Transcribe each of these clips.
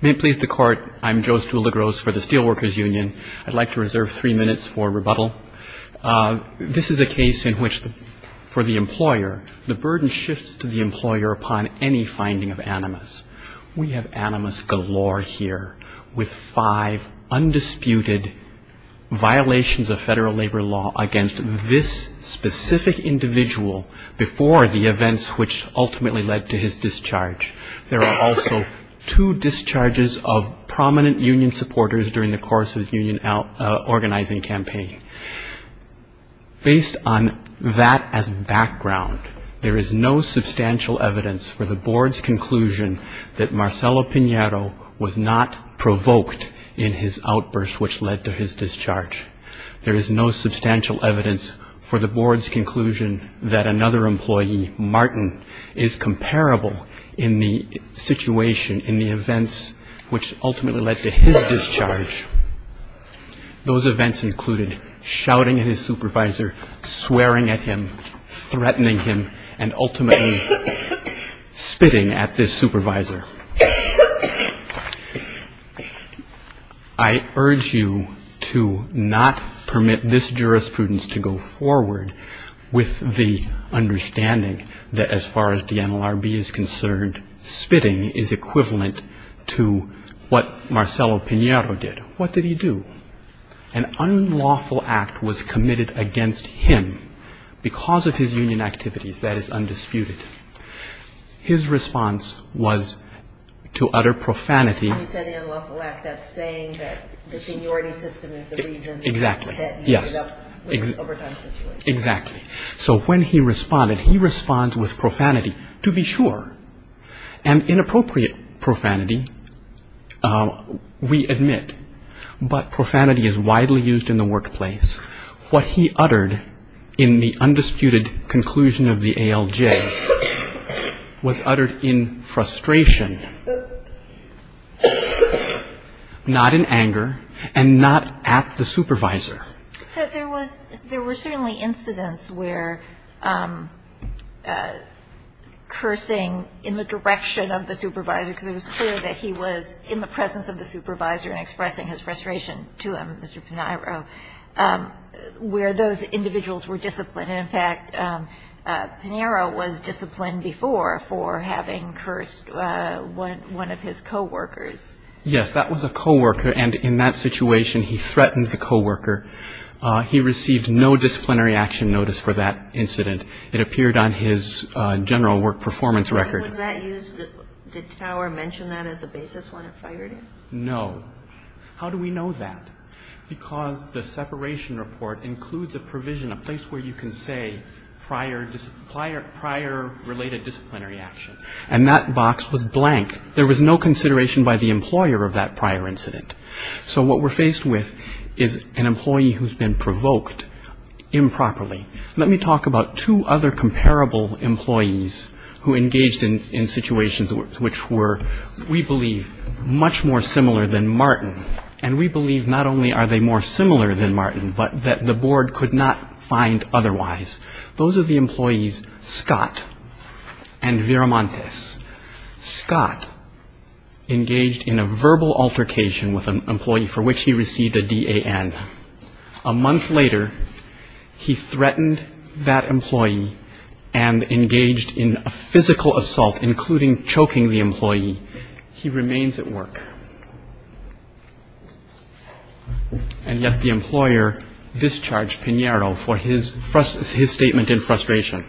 May it please the Court, I'm Joe Stulegros for the Steelworkers Union. I'd like to reserve three minutes for rebuttal. This is a case in which, for the employer, the burden shifts to the employer upon any finding of animus. We have animus galore here, with five undisputed violations of federal labor law against this specific individual before the events which ultimately led to his discharge. There are also two discharges of prominent union supporters during the course of the union organizing campaign. Based on that as background, there is no substantial evidence for the Board's conclusion that Marcelo Piñero was not provoked in his outburst which led to his discharge. There is no substantial evidence for the Board's conclusion that another employee, Martin, is comparable in the situation in the events which ultimately led to his discharge. Those events included shouting at his supervisor, swearing at him, threatening him, and ultimately spitting at this supervisor. I urge you to not permit this jurisprudence to go forward with the understanding that as far as the NLRB is concerned, spitting is equivalent to what Marcelo Piñero did. What did he do? An unlawful act was committed against him because of his union activities. That is undisputed. His response was to utter profanity. When you say the unlawful act, that's saying that the seniority system is the reason that he ended up in this overtime situation. Exactly. So when he responded, he responds with profanity to be sure. And inappropriate profanity, we admit, but profanity is widely used in the workplace. What he uttered in the undisputed conclusion of the ALJ was uttered in frustration, not in anger, and not at the supervisor. There was certainly incidents where cursing in the direction of the supervisor, because it was clear that he was in the presence of the supervisor and expressing his frustration to him, Mr. Piñero, where those individuals were disciplined. And in fact, Piñero was disciplined before for having cursed one of his coworkers. Yes. That was a coworker, and in that situation he threatened the coworker. He received no disciplinary action notice for that incident. It appeared on his general work performance record. Was that used? Did Tower mention that as a basis when it fired him? No. How do we know that? Because the separation report includes a provision, a place where you can say prior related disciplinary action. And that box was blank. There was no consideration by the employer of that prior incident. So what we're faced with is an employee who's been provoked improperly. Let me talk about two other comparable employees who engaged in situations which were, we believe, much more similar than Martin. And we believe not only are they more similar than Martin, but that the board could not find otherwise. Those are the employees Scott and Viramontes. Scott engaged in a verbal altercation with an employee for which he received a D.A.N. A month later, he threatened that employee and engaged in a physical assault, including choking the employee. He remains at work. And yet the employer discharged Pinheiro for his statement in frustration.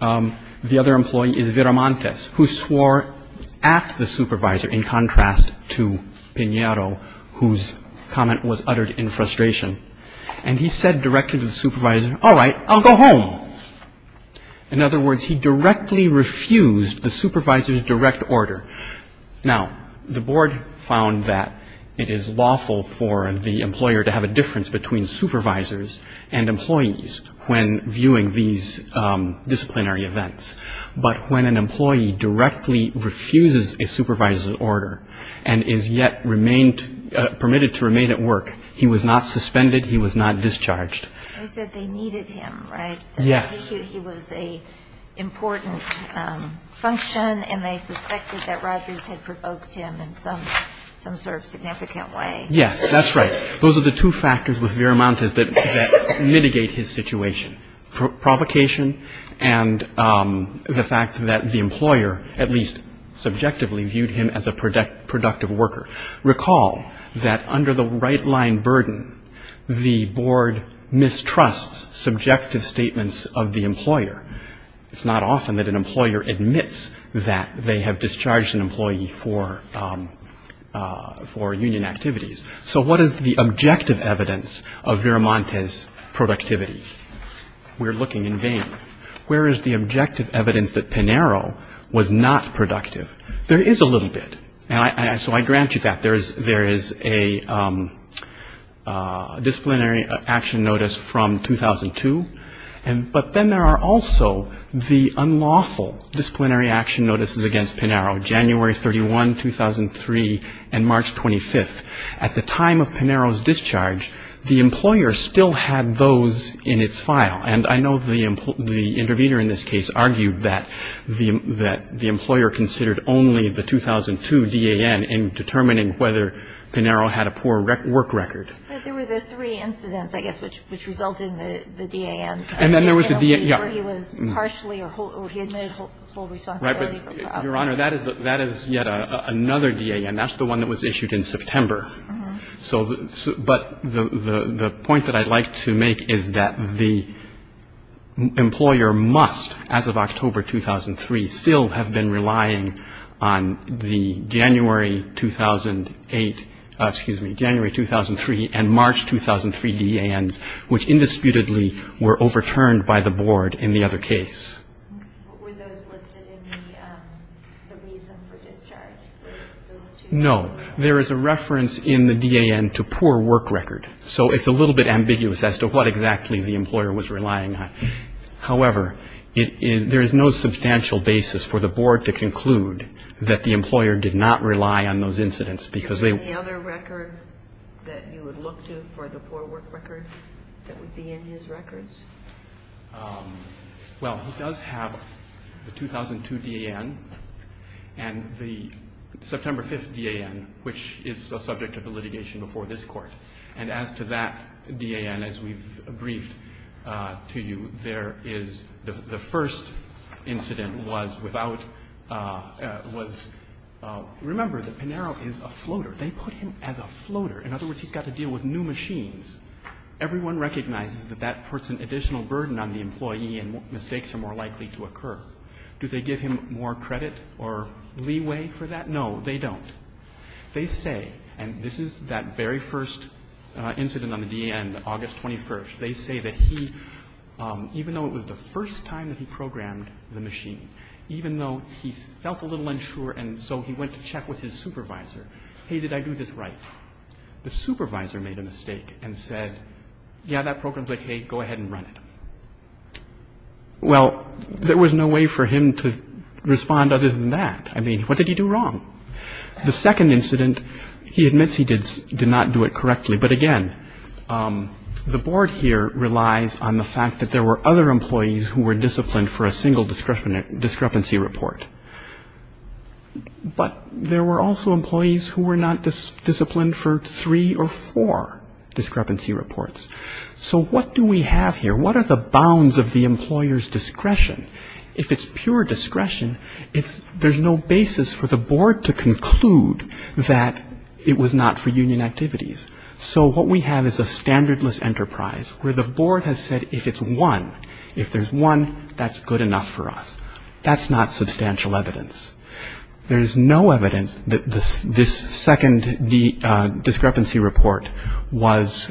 The other employee is Viramontes, who swore at the supervisor in contrast to Pinheiro, whose comment was uttered in frustration. And he said directly to the supervisor, all right, I'll go home. In other words, he directly refused the supervisor's direct order. Now, the board found that it is lawful for the employer to have a difference between supervisors and employees when viewing these disciplinary events. But when an employee directly refuses a supervisor's order and is yet permitted to remain at work, he was not suspended, he was not discharged. They said they needed him, right? Yes. He was an important function, and they suspected that Rogers had provoked him in some sort of significant way. Yes, that's right. Those are the two factors with Viramontes that mitigate his situation, provocation and the fact that the employer at least subjectively viewed him as a productive worker. Recall that under the right-line burden, the board mistrusts subjective statements of the employer. It's not often that an employer admits that they have discharged an employee for union activities. So what is the objective evidence of Viramontes' productivity? We're looking in vain. Where is the objective evidence that Pinheiro was not productive? There is a little bit. So I grant you that. There is a disciplinary action notice from 2002. But then there are also the unlawful disciplinary action notices against Pinheiro, January 31, 2003, and March 25. At the time of Pinheiro's discharge, the employer still had those in its file. And I know the intervener in this case argued that the employer considered only the 2002 D.A.N. in determining whether Pinheiro had a poor work record. But there were the three incidents, I guess, which resulted in the D.A.N. And then there was the D.A.N. Where he was partially or he had made a whole responsibility. Right. But, Your Honor, that is yet another D.A.N. That's the one that was issued in September. But the point that I'd like to make is that the employer must, as of October 2003, still have been relying on the January 2008, excuse me, January 2003 and March 2003 D.A.N.s, which indisputably were overturned by the board in the other case. Were those listed in the reason for discharge? No. There is a reference in the D.A.N. to poor work record. So it's a little bit ambiguous as to what exactly the employer was relying on. However, there is no substantial basis for the board to conclude that the employer did not rely on those incidents. Is there any other record that you would look to for the poor work record that would be in his records? Well, he does have the 2002 D.A.N. and the September 5th D.A.N., which is a subject of the litigation before this Court. And as to that D.A.N., as we've briefed to you, there is the first incident was without, was, remember, that Pinheiro is a floater. They put him as a floater. In other words, he's got to deal with new machines. Everyone recognizes that that puts an additional burden on the employee and mistakes are more likely to occur. Do they give him more credit or leeway for that? No, they don't. They say, and this is that very first incident on the D.A.N., August 21st. They say that he, even though it was the first time that he programmed the machine, even though he felt a little unsure and so he went to check with his supervisor. Hey, did I do this right? The supervisor made a mistake and said, yeah, that program's okay. Go ahead and run it. Well, there was no way for him to respond other than that. I mean, what did he do wrong? The second incident, he admits he did not do it correctly. But, again, the Board here relies on the fact that there were other employees who were disciplined for a single discrepancy report. But there were also employees who were not disciplined for three or four discrepancy reports. So what do we have here? What are the bounds of the employer's discretion? If it's pure discretion, there's no basis for the Board to conclude that it was not for union activities. So what we have is a standardless enterprise where the Board has said, if it's one, if there's one, that's good enough for us. That's not substantial evidence. There is no evidence that this second discrepancy report was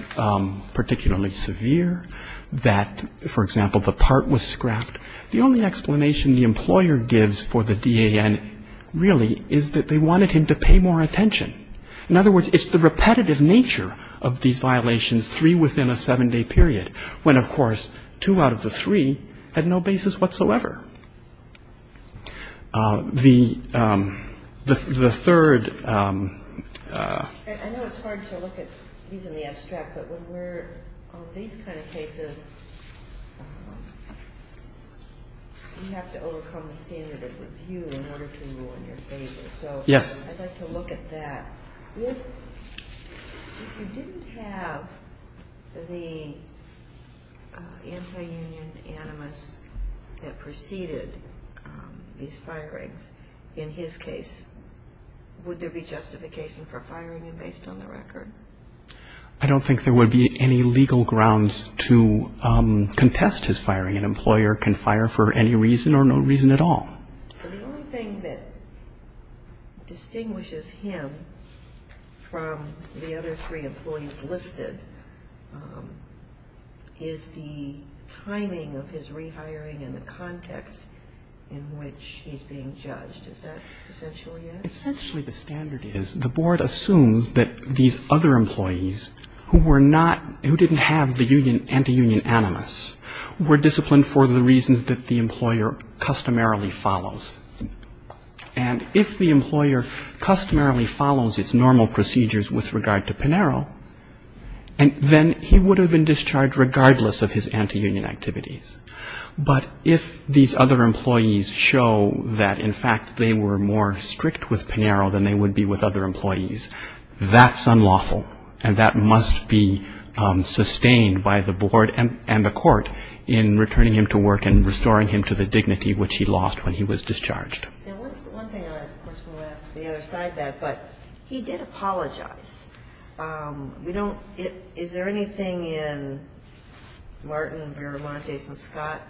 particularly severe, that, for example, the part was scrapped. The only explanation the employer gives for the DAN really is that they wanted him to pay more attention. In other words, it's the repetitive nature of these violations, three within a seven-day period, when, of course, two out of the three had no basis whatsoever. The third. I know it's hard to look at these in the abstract, but when we're on these kind of cases, you have to overcome the standard of review in order to rule in your favor. Yes. I'd like to look at that. If you didn't have the anti-union animus that preceded these firings, in his case, would there be justification for firing him based on the record? I don't think there would be any legal grounds to contest his firing. An employer can fire for any reason or no reason at all. So the only thing that distinguishes him from the other three employees listed is the timing of his rehiring and the context in which he's being judged. Is that essentially it? Essentially, the standard is the board assumes that these other employees who were not who didn't have the anti-union animus were disciplined for the reasons that the employer customarily follows. And if the employer customarily follows its normal procedures with regard to Pinero, then he would have been discharged regardless of his anti-union activities. But if these other employees show that, in fact, they were more strict with Pinero than they would be with other employees, that's unlawful, and that must be sustained by the board and the court in returning him to work and restoring him to the dignity which he lost when he was discharged. Now, one thing I, of course, will ask the other side of that, but he did apologize. We don't – is there anything in Martin, Viramontes, and Scott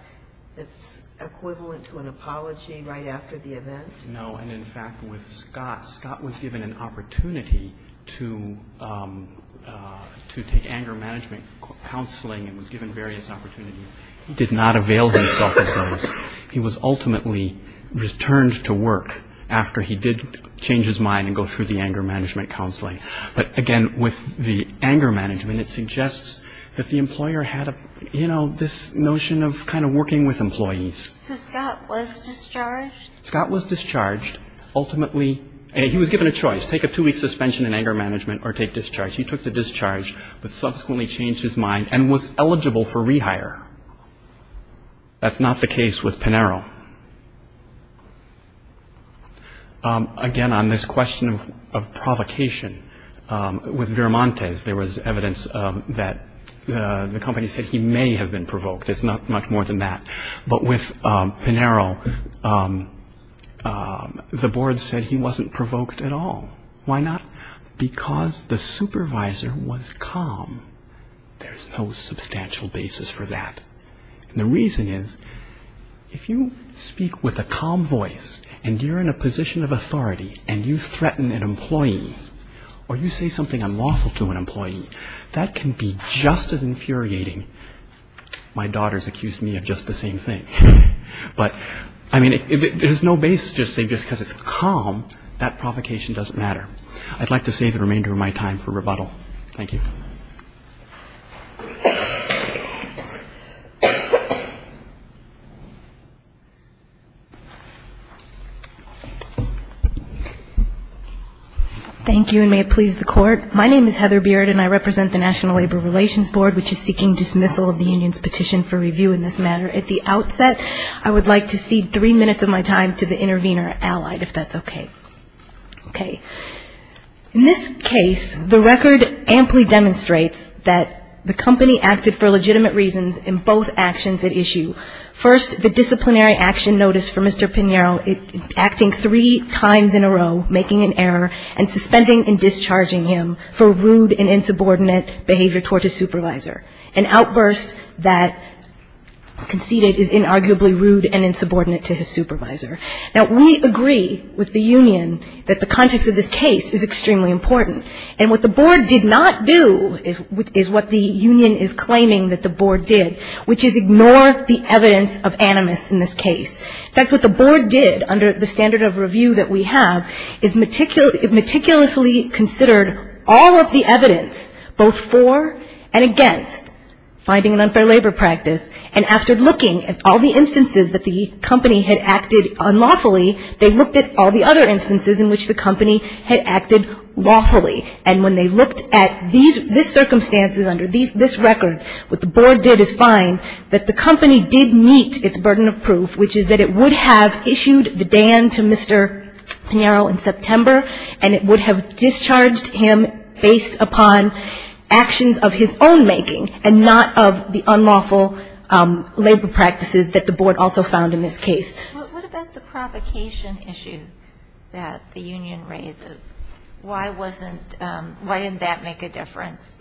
that's equivalent to an apology right after the event? No, and, in fact, with Scott, Scott was given an opportunity to take anger management counseling and was given various opportunities. He did not avail himself of those. He was ultimately returned to work after he did change his mind and go through the anger management counseling. But, again, with the anger management, it suggests that the employer had, you know, this notion of kind of working with employees. So Scott was discharged? Scott was discharged. Ultimately – and he was given a choice, take a two-week suspension in anger management or take discharge. He took the discharge but subsequently changed his mind and was eligible for rehire. That's not the case with Pinero. Again, on this question of provocation, with Viramontes, there was evidence that the company said he may have been provoked. It's not much more than that. But with Pinero, the board said he wasn't provoked at all. Why not? Because the supervisor was calm. There's no substantial basis for that. And the reason is if you speak with a calm voice and you're in a position of authority and you threaten an employee or you say something unlawful to an employee, that can be just as infuriating. My daughters accused me of just the same thing. But, I mean, there's no basis to say just because it's calm, that provocation doesn't matter. I'd like to save the remainder of my time for rebuttal. Thank you. MS. BEARD. Thank you, and may it please the Court. My name is Heather Beard, and I represent the National Labor Relations Board, which is seeking dismissal of the union's petition for review in this matter. At the outset, I would like to cede three minutes of my time to the intervener, Allied, if that's okay. Okay. In this case, the record amply demonstrates that the company acted for legitimate reasons in both actions at issue. First, the disciplinary action notice for Mr. Pinero, acting three times in a row, making an error and suspending and discharging him for rude and insubordinate behavior toward his supervisor. An outburst that is conceded is inarguably rude and insubordinate to his supervisor. Now, we agree with the union that the context of this case is extremely important. And what the board did not do is what the union is claiming that the board did, which is ignore the evidence of animus in this case. In fact, what the board did, under the standard of review that we have, is meticulously considered all of the evidence both for and against finding an unfair labor practice. And after looking at all the instances that the company had acted unlawfully, they looked at all the other instances in which the company had acted lawfully. And when they looked at these circumstances under this record, what the board did is find that the company did meet its burden of proof, which is that it would have issued the DAN to Mr. Pinero in September and it would have discharged him based upon actions of his own making and not of the unlawful labor practices that the board also found in this case. But what about the provocation issue that the union raises? Why wasn't – why didn't that make a difference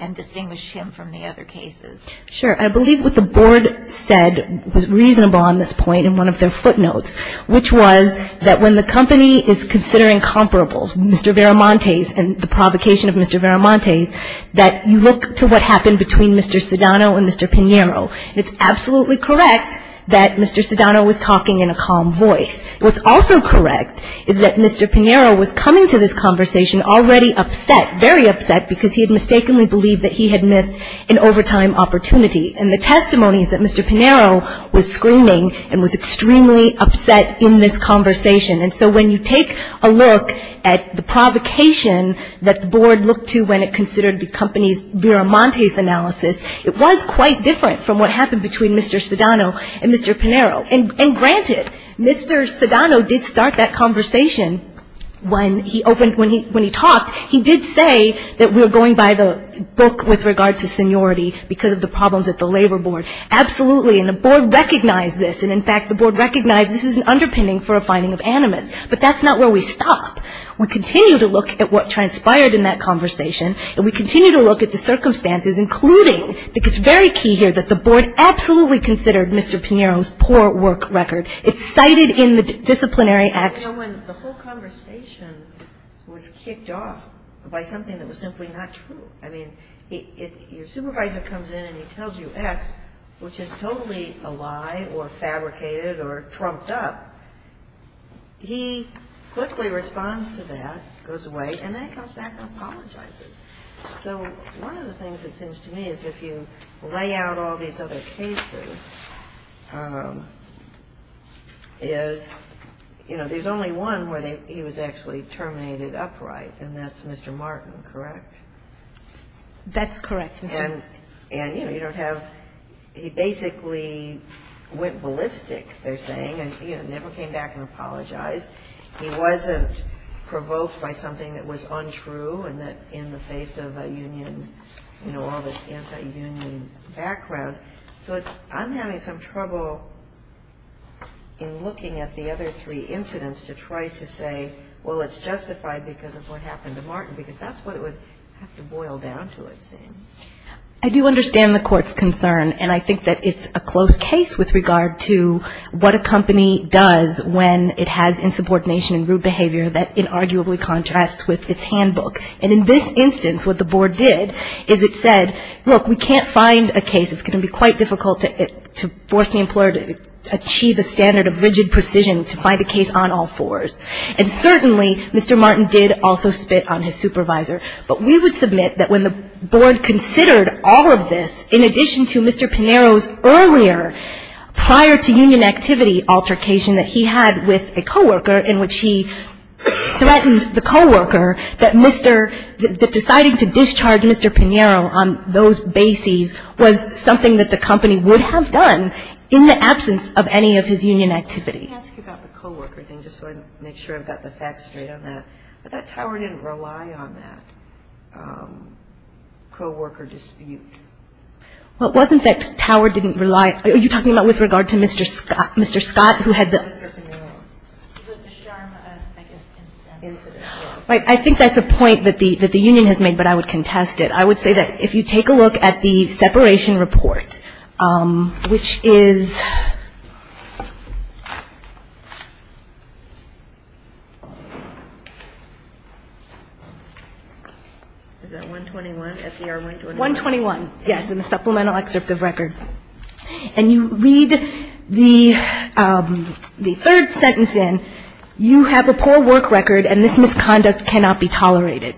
and distinguish him from the other cases? Sure. I believe what the board said was reasonable on this point in one of their footnotes, which was that when the company is considering comparables, Mr. Veramontes and the provocation of Mr. Veramontes, that you look to what happened between Mr. Sedano and Mr. Pinero. It's absolutely correct that Mr. Sedano was talking in a calm voice. What's also correct is that Mr. Pinero was coming to this conversation already upset, very upset, because he had mistakenly believed that he had missed an overtime opportunity. And the testimony is that Mr. Pinero was screaming and was extremely upset in this conversation. And so when you take a look at the provocation that the board looked to when it considered the company's Veramontes analysis, it was quite different from what happened between Mr. Sedano and Mr. Pinero. And granted, Mr. Sedano did start that conversation when he opened – when he talked. He did say that we were going by the book with regard to seniority because of the problems at the labor board. Absolutely. And the board recognized this. And, in fact, the board recognized this is an underpinning for a finding of animus. But that's not where we stop. We continue to look at what transpired in that conversation, and we continue to look at the circumstances, including – I think it's very key here that the board absolutely considered Mr. Pinero's poor work record. It's cited in the disciplinary act. You know, when the whole conversation was kicked off by something that was simply not true – I mean, if your supervisor comes in and he tells you X, which is totally a lie or fabricated or trumped up, he quickly responds to that, goes away, and then comes back and apologizes. So one of the things that seems to me is if you lay out all these other cases is, you know, there's only one where he was actually terminated upright, and that's Mr. Martin, correct? That's correct. And, you know, you don't have – he basically went ballistic, they're saying, and, you know, never came back and apologized. He wasn't provoked by something that was untrue in the face of a union, you know, all this anti-union background. So I'm having some trouble in looking at the other three incidents to try to say, well, it's justified because of what happened to Martin, because that's what it would have to boil down to, it seems. I do understand the Court's concern, and I think that it's a close case with regard to what a company does when it has insubordination and rude behavior that inarguably contrasts with its handbook. And in this instance, what the Board did is it said, look, we can't find a case. It's going to be quite difficult to force the employer to achieve a standard of rigid precision to find a case on all fours. And certainly, Mr. Martin did also spit on his supervisor. But we would submit that when the Board considered all of this, in addition to Mr. Pinheiro's earlier prior-to-union activity altercation that he had with a co-worker in which he threatened the co-worker that Mr. – that deciding to discharge Mr. Pinheiro on those bases was something that the company would have done in the absence of any of his union activity. But that tower didn't rely on that co-worker dispute. Well, it wasn't that tower didn't rely – are you talking about with regard to Mr. Scott, Mr. Scott, who had the – Mr. Pinheiro. Right. I think that's a point that the union has made, but I would contest it. I would say that if you take a look at the separation report, which is – is that 121, S.E.R. 121? 121, yes, in the supplemental excerpt of record. And you read the third sentence in, you have a poor work record and this misconduct cannot be tolerated.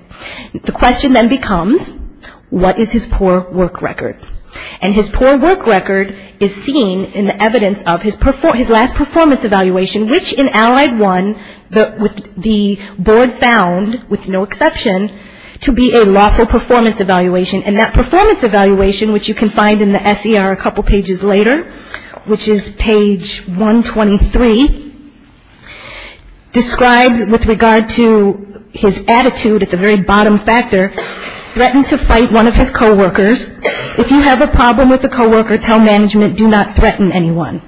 The question then becomes, what is his poor work record? And his poor work record is seen in the evidence of his last performance evaluation, which in Allied 1, the board found, with no exception, to be a lawful performance evaluation. And that performance evaluation, which you can find in the S.E.R. a couple pages later, which is page 123, describes with regard to his attitude at the very bottom factor, threatened to fight one of his coworkers. If you have a problem with a coworker, tell management do not threaten anyone.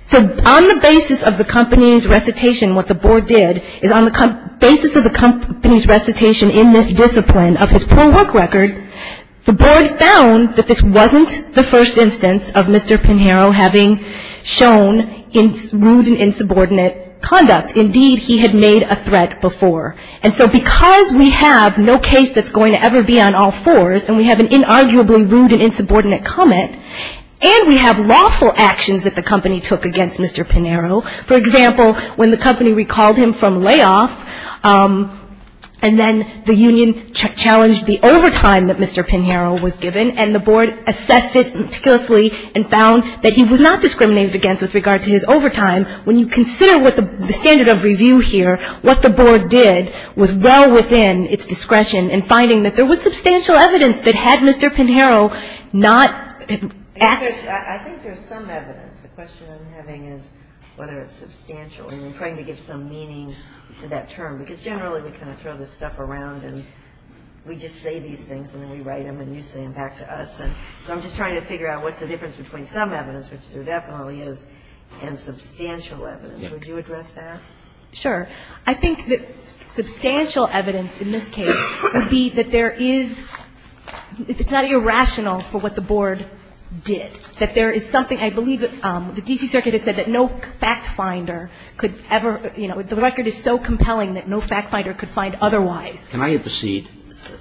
So on the basis of the company's recitation, what the board did is on the basis of the company's recitation in this discipline of his poor work record, the board found that this wasn't the first instance of Mr. Pinheiro having shown rude and insubordinate conduct. Indeed, he had made a threat before. And so because we have no case that's going to ever be on all fours, and we have an inarguably rude and insubordinate comment, and we have lawful actions that the company took against Mr. Pinheiro, for example, when the company recalled him from layoff, and then the union challenged the overtime that Mr. Pinheiro was given, and the board assessed it meticulously and found that he was not discriminated against with regard to his overtime. So in light of review here, what the board did was well within its discretion in finding that there was substantial evidence that had Mr. Pinheiro not acted. I think there's some evidence. The question I'm having is whether it's substantial. And I'm trying to get some meaning to that term. Because generally, we kind of throw this stuff around, and we just say these things, and then we write them, and you say them back to us. And so I'm just trying to figure out what's the difference between some evidence, which there definitely is, and substantial evidence. Would you address that? Sure. I think that substantial evidence in this case would be that there is – it's not irrational for what the board did, that there is something – I believe that the D.C. Circuit has said that no fact-finder could ever – you know, the record is so compelling that no fact-finder could find otherwise. Can I intercede,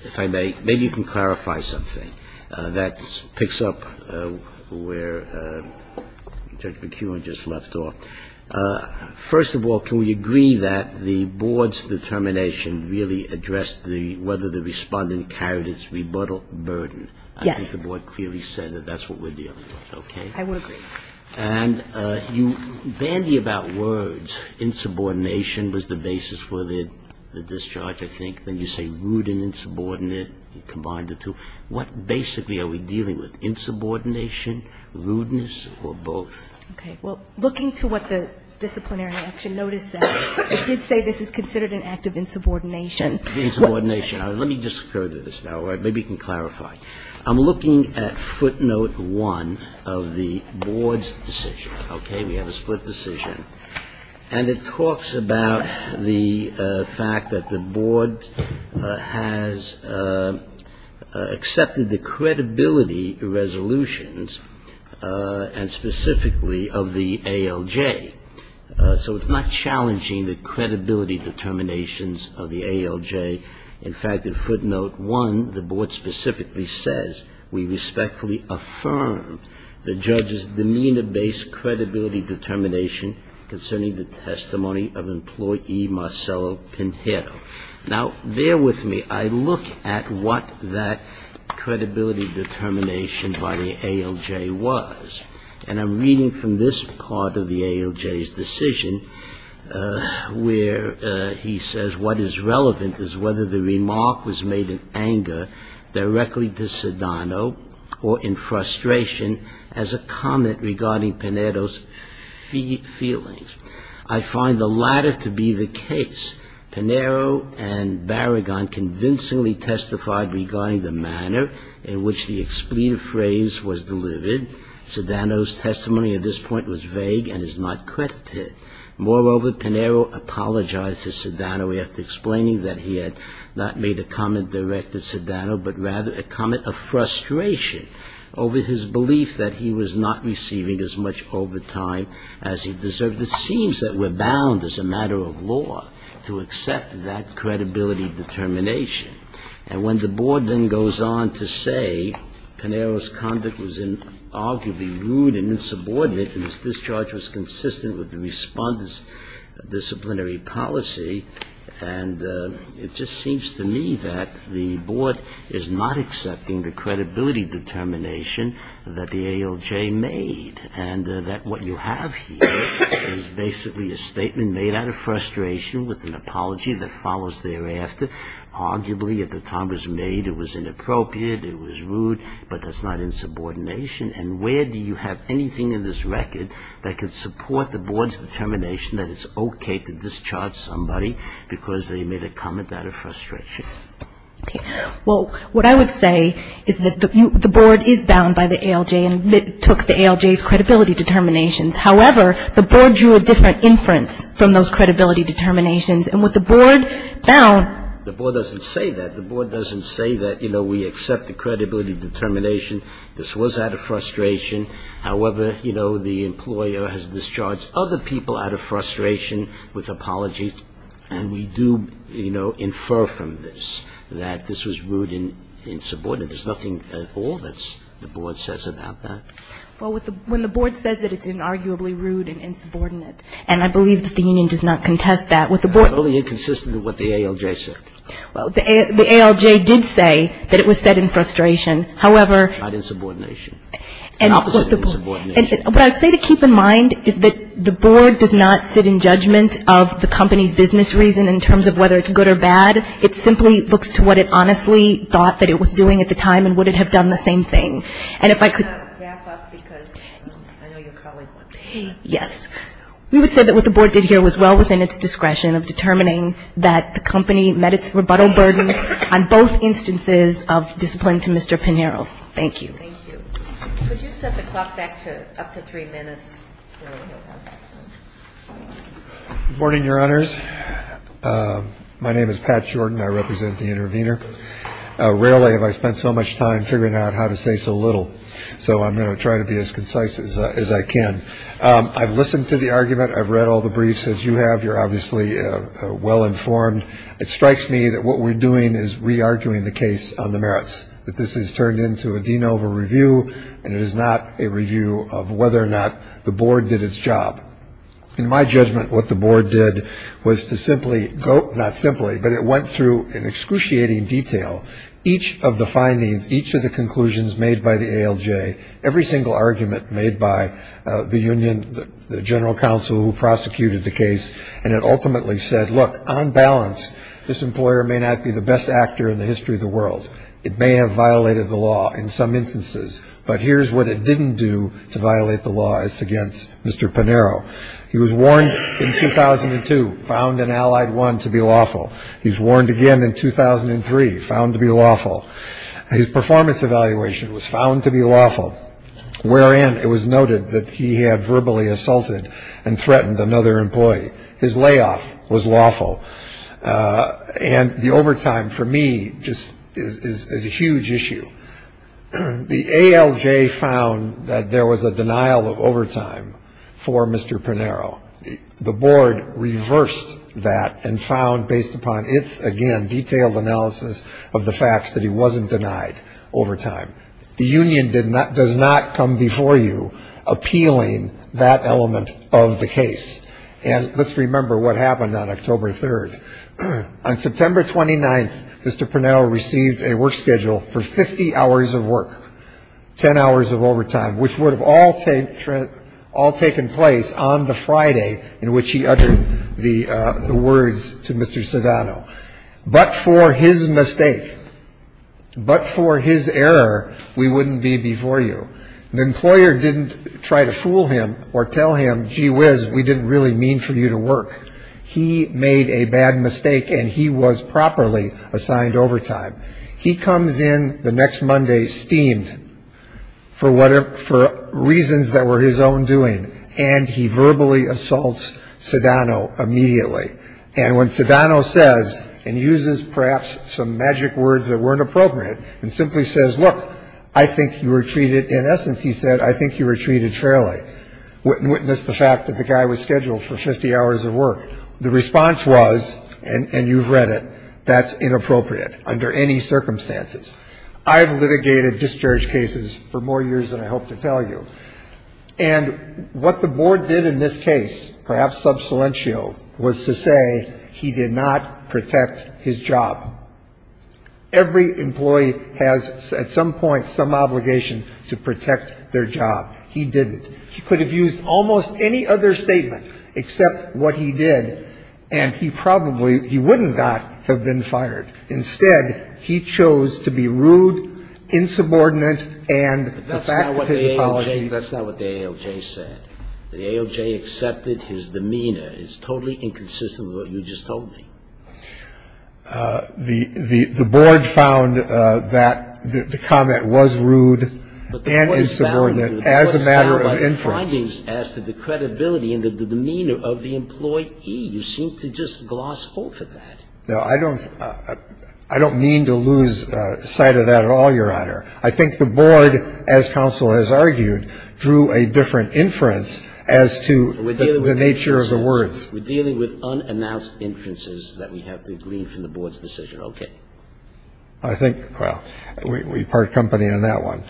if I may? Maybe you can clarify something. That picks up where Judge McKeown just left off. First of all, can we agree that there was substantial evidence that Mr. Pinheiro not acted? I would agree that the board's determination really addressed the – whether the Respondent carried its rebuttal burden. I think the board clearly said that that's what we're dealing with, okay? I would agree. And you bandy about words. Insubordination was the basis for the discharge, I think. Then you say rude and insubordinate, you combine the two. What basically are we dealing with, insubordination, rudeness, or both? Okay, well, looking to what the disciplinary action notice says, it did say this is considered an act of insubordination. Of insubordination. Let me just go to this now. All right? Maybe you can clarify. I'm looking at footnote one of the board's decision. Okay? We have a split decision, and it talks about the fact that the board has accepted the credibility of resolutions, and specifically that the board has accepted the credibility resolutions. of the ALJ. So it's not challenging the credibility determinations of the ALJ. In fact, in footnote one, the board specifically says we respectfully affirm the judge's demeanor-based credibility determination concerning the testimony of employee Marcelo Pinheiro. Now, bear with me. I look at what that credibility determination by the ALJ was, and I'm reading from this part of the ALJ's decision where he says what is relevant is whether the remark was made in anger directly to Sedano or in frustration as a comment regarding Pinheiro's feelings. I find the latter to be the case. Pinheiro and Barragan convincingly testified regarding the manner in which the expletive phrase was delivered. Sedano's testimony at this point was vague and is not credited. Moreover, Pinheiro apologized to Sedano after explaining that he had not made a comment directed to Sedano but rather a comment of frustration over his belief that he was not receiving as much overtime as he deserved. But it seems that we're bound, as a matter of law, to accept that credibility determination. And when the board then goes on to say Pinheiro's conduct was arguably rude and insubordinate and his discharge was consistent with the respondent's disciplinary policy, and it just seems to me that the board is not accepting the credibility determination that the ALJ made and that what you have here is not credible. And where do you have anything in this record that can support the board's determination that it's okay to discharge somebody because they made a comment out of frustration? Okay. Well, what I would say is that the board is bound by the ALJ and took the ALJ's credibility determinations. However, the board drew a different inference from those credibility determinations. And with the board bound the board doesn't say that. The board doesn't say that, you know, we accept the credibility determination. This was out of frustration. However, you know, the employer has discharged other people out of frustration with apologies. And we do, you know, infer from this. That this was rude and insubordinate. There's nothing at all that the board says about that. Well, when the board says that it's inarguably rude and insubordinate. And I believe that the union does not contest that. It's only inconsistent with what the ALJ said. Well, the ALJ did say that it was said in frustration. However. Not insubordination. It's the opposite of insubordination. What I would say to keep in mind is that the board does not sit in judgment of the company's business reason in terms of whether it's good or bad. It simply looks to what it honestly thought that it was doing at the time and would it have done the same thing. And if I could. Wrap up because I know you're calling once. Yes. We would say that what the board did here was well within its discretion of determining that the company met its rebuttal burden on both instances of discipline to Mr. Pinheiro. Thank you. Thank you. Could you set the clock back to up to three minutes? Morning, your honors. My name is Pat Jordan. I represent the intervener. Rarely have I spent so much time figuring out how to say so little. So I'm going to try to be as concise as I can. I've listened to the argument. I've read all the briefs as you have. You're obviously well informed. It strikes me that what we're doing is re-arguing the case on the merits, that this is turned into a de novo review and it is not a review of whether or not the board did its job. In my judgment, what the board did was to simply go, not simply, but it went through an excruciating detail. Each of the findings, each of the conclusions made by the ALJ, every single argument made by the union, the general counsel who prosecuted the case. And it ultimately said, look, on balance, this employer may not be the best actor in the history of the world. It may have violated the law in some instances, but here's what it didn't do to violate the laws against Mr. Pinheiro. He was warned in 2002, found an allied one to be lawful. He's warned again in 2003, found to be lawful. His performance evaluation was found to be lawful, wherein it was noted that he had verbally assaulted and threatened another employee. His layoff was lawful. And the overtime for me just is a huge issue. The ALJ found that there was a denial of overtime for Mr. Pinheiro. The board reversed that and found, based upon its, again, detailed analysis of the facts, that he wasn't denied overtime. The union does not come before you appealing that element of the case. And let's remember what happened on October 3rd. On September 29th, Mr. Pinheiro received a work schedule for 50 hours of work, 10 hours of overtime, which would have all taken place on the Friday in which he uttered the words to Mr. Sedano. But for his mistake, but for his error, we wouldn't be before you. The employer didn't try to fool him or tell him, gee whiz, we didn't really mean for you to work. He made a bad mistake and he was properly assigned overtime. He comes in the next Monday steamed for reasons that were his own doing. And he verbally assaults Sedano immediately. And when Sedano says and uses perhaps some magic words that weren't appropriate and simply says, look, I think you were treated, in essence, he said, I think you were treated fairly, witness the fact that the guy was scheduled for 50 hours of work. The response was, and you've read it, that's inappropriate. Under any circumstances. I've litigated discharge cases for more years than I hope to tell you. And what the board did in this case, perhaps sub silentio, was to say he did not protect his job. Every employee has at some point some obligation to protect their job. He didn't. He could have used almost any other statement except what he did, and he probably, he wouldn't not have been fired. Instead, he chose to be rude, insubordinate, and the fact that his apology. That's not what the AOJ said. The AOJ accepted his demeanor. It's totally inconsistent with what you just told me. The board found that the comment was rude and insubordinate as a matter of inference. But the point is that the findings as to the credibility and the demeanor of the employee, you seem to just gloss over that. No, I don't. I don't mean to lose sight of that at all, Your Honor. I think the board, as counsel has argued, drew a different inference as to the nature of the words. We're dealing with unannounced inferences that we have to agree from the board's decision. Okay. I think, well, we part company on that one.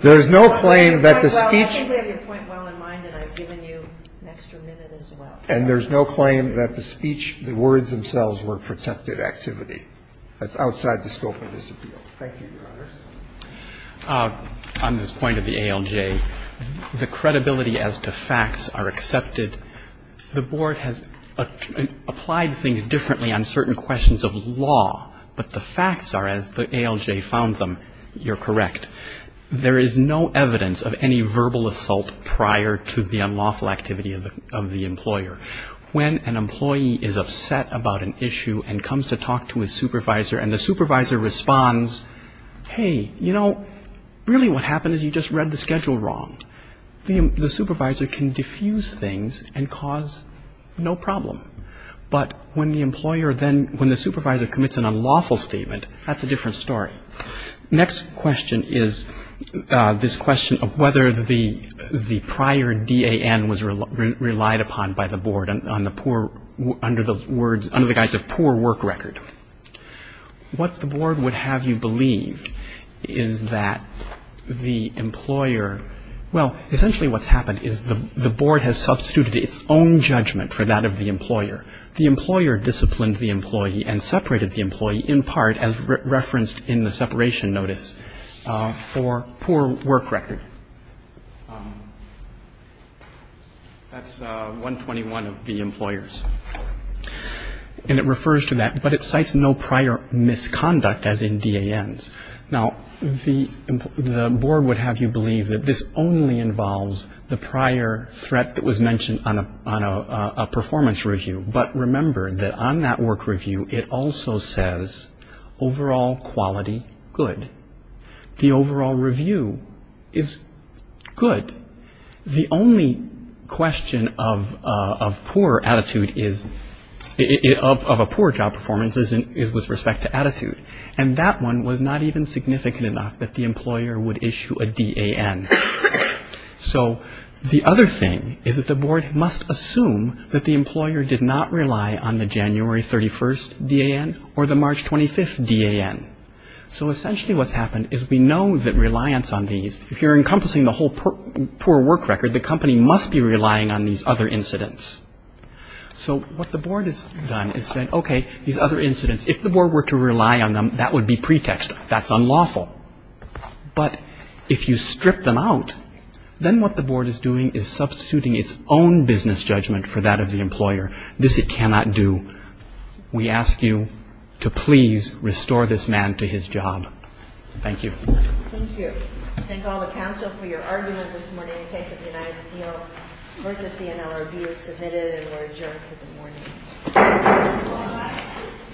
There's no claim that the speech. I think we have your point well in mind, and I've given you an extra minute as well. And there's no claim that the speech, the words themselves were protected activity. That's outside the scope of this appeal. Thank you, Your Honors. On this point of the AOJ, the credibility as to facts are accepted. The board has applied things differently on certain questions of law, but the facts are as the AOJ found them. You're correct. There is no evidence of any verbal assault prior to the unlawful activity of the employer. When an employee is upset about an issue and comes to talk to his supervisor, and the supervisor responds, hey, you know, really what happened is you just read the schedule wrong, the supervisor can diffuse things and cause no problem. But when the employer then, when the supervisor commits an unlawful statement, that's a different story. Next question is this question of whether the prior D.A.N. was relied upon by the board under the guise of poor work record. What the board would have you believe is that the employer, well, essentially what's happened is the board has substituted its own judgment for that of the employer. The employer disciplined the employee and separated the employee, in part as referenced in the separation notice, for poor work record. That's 121 of the employers. And it refers to that, but it cites no prior misconduct, as in D.A.N.s. Now, the board would have you believe that this only involves the prior threat that was mentioned on a performance review. But remember that on that work review, it also says overall quality good. The overall review is good. The only question of poor attitude is, of a poor job performance is with respect to attitude. And that one was not even significant enough that the employer would issue a D.A.N. So the other thing is that the board must assume that the employer did not rely on the January 31st D.A.N. or the March 25th D.A.N. So essentially what's happened is we know that reliance on these, if you're encompassing the whole poor work record, the company must be relying on these other incidents. So what the board has done is said, okay, these other incidents, if the board were to rely on them, that would be pretext. That's unlawful. But if you strip them out, then what the board is doing is substituting its own business judgment for that of the employer. This it cannot do. We ask you to please restore this man to his job. Thank you. Thank you. Thank all the counsel for your argument this morning in case of the United Steel versus the NLRB is submitted and we're adjourned for the morning.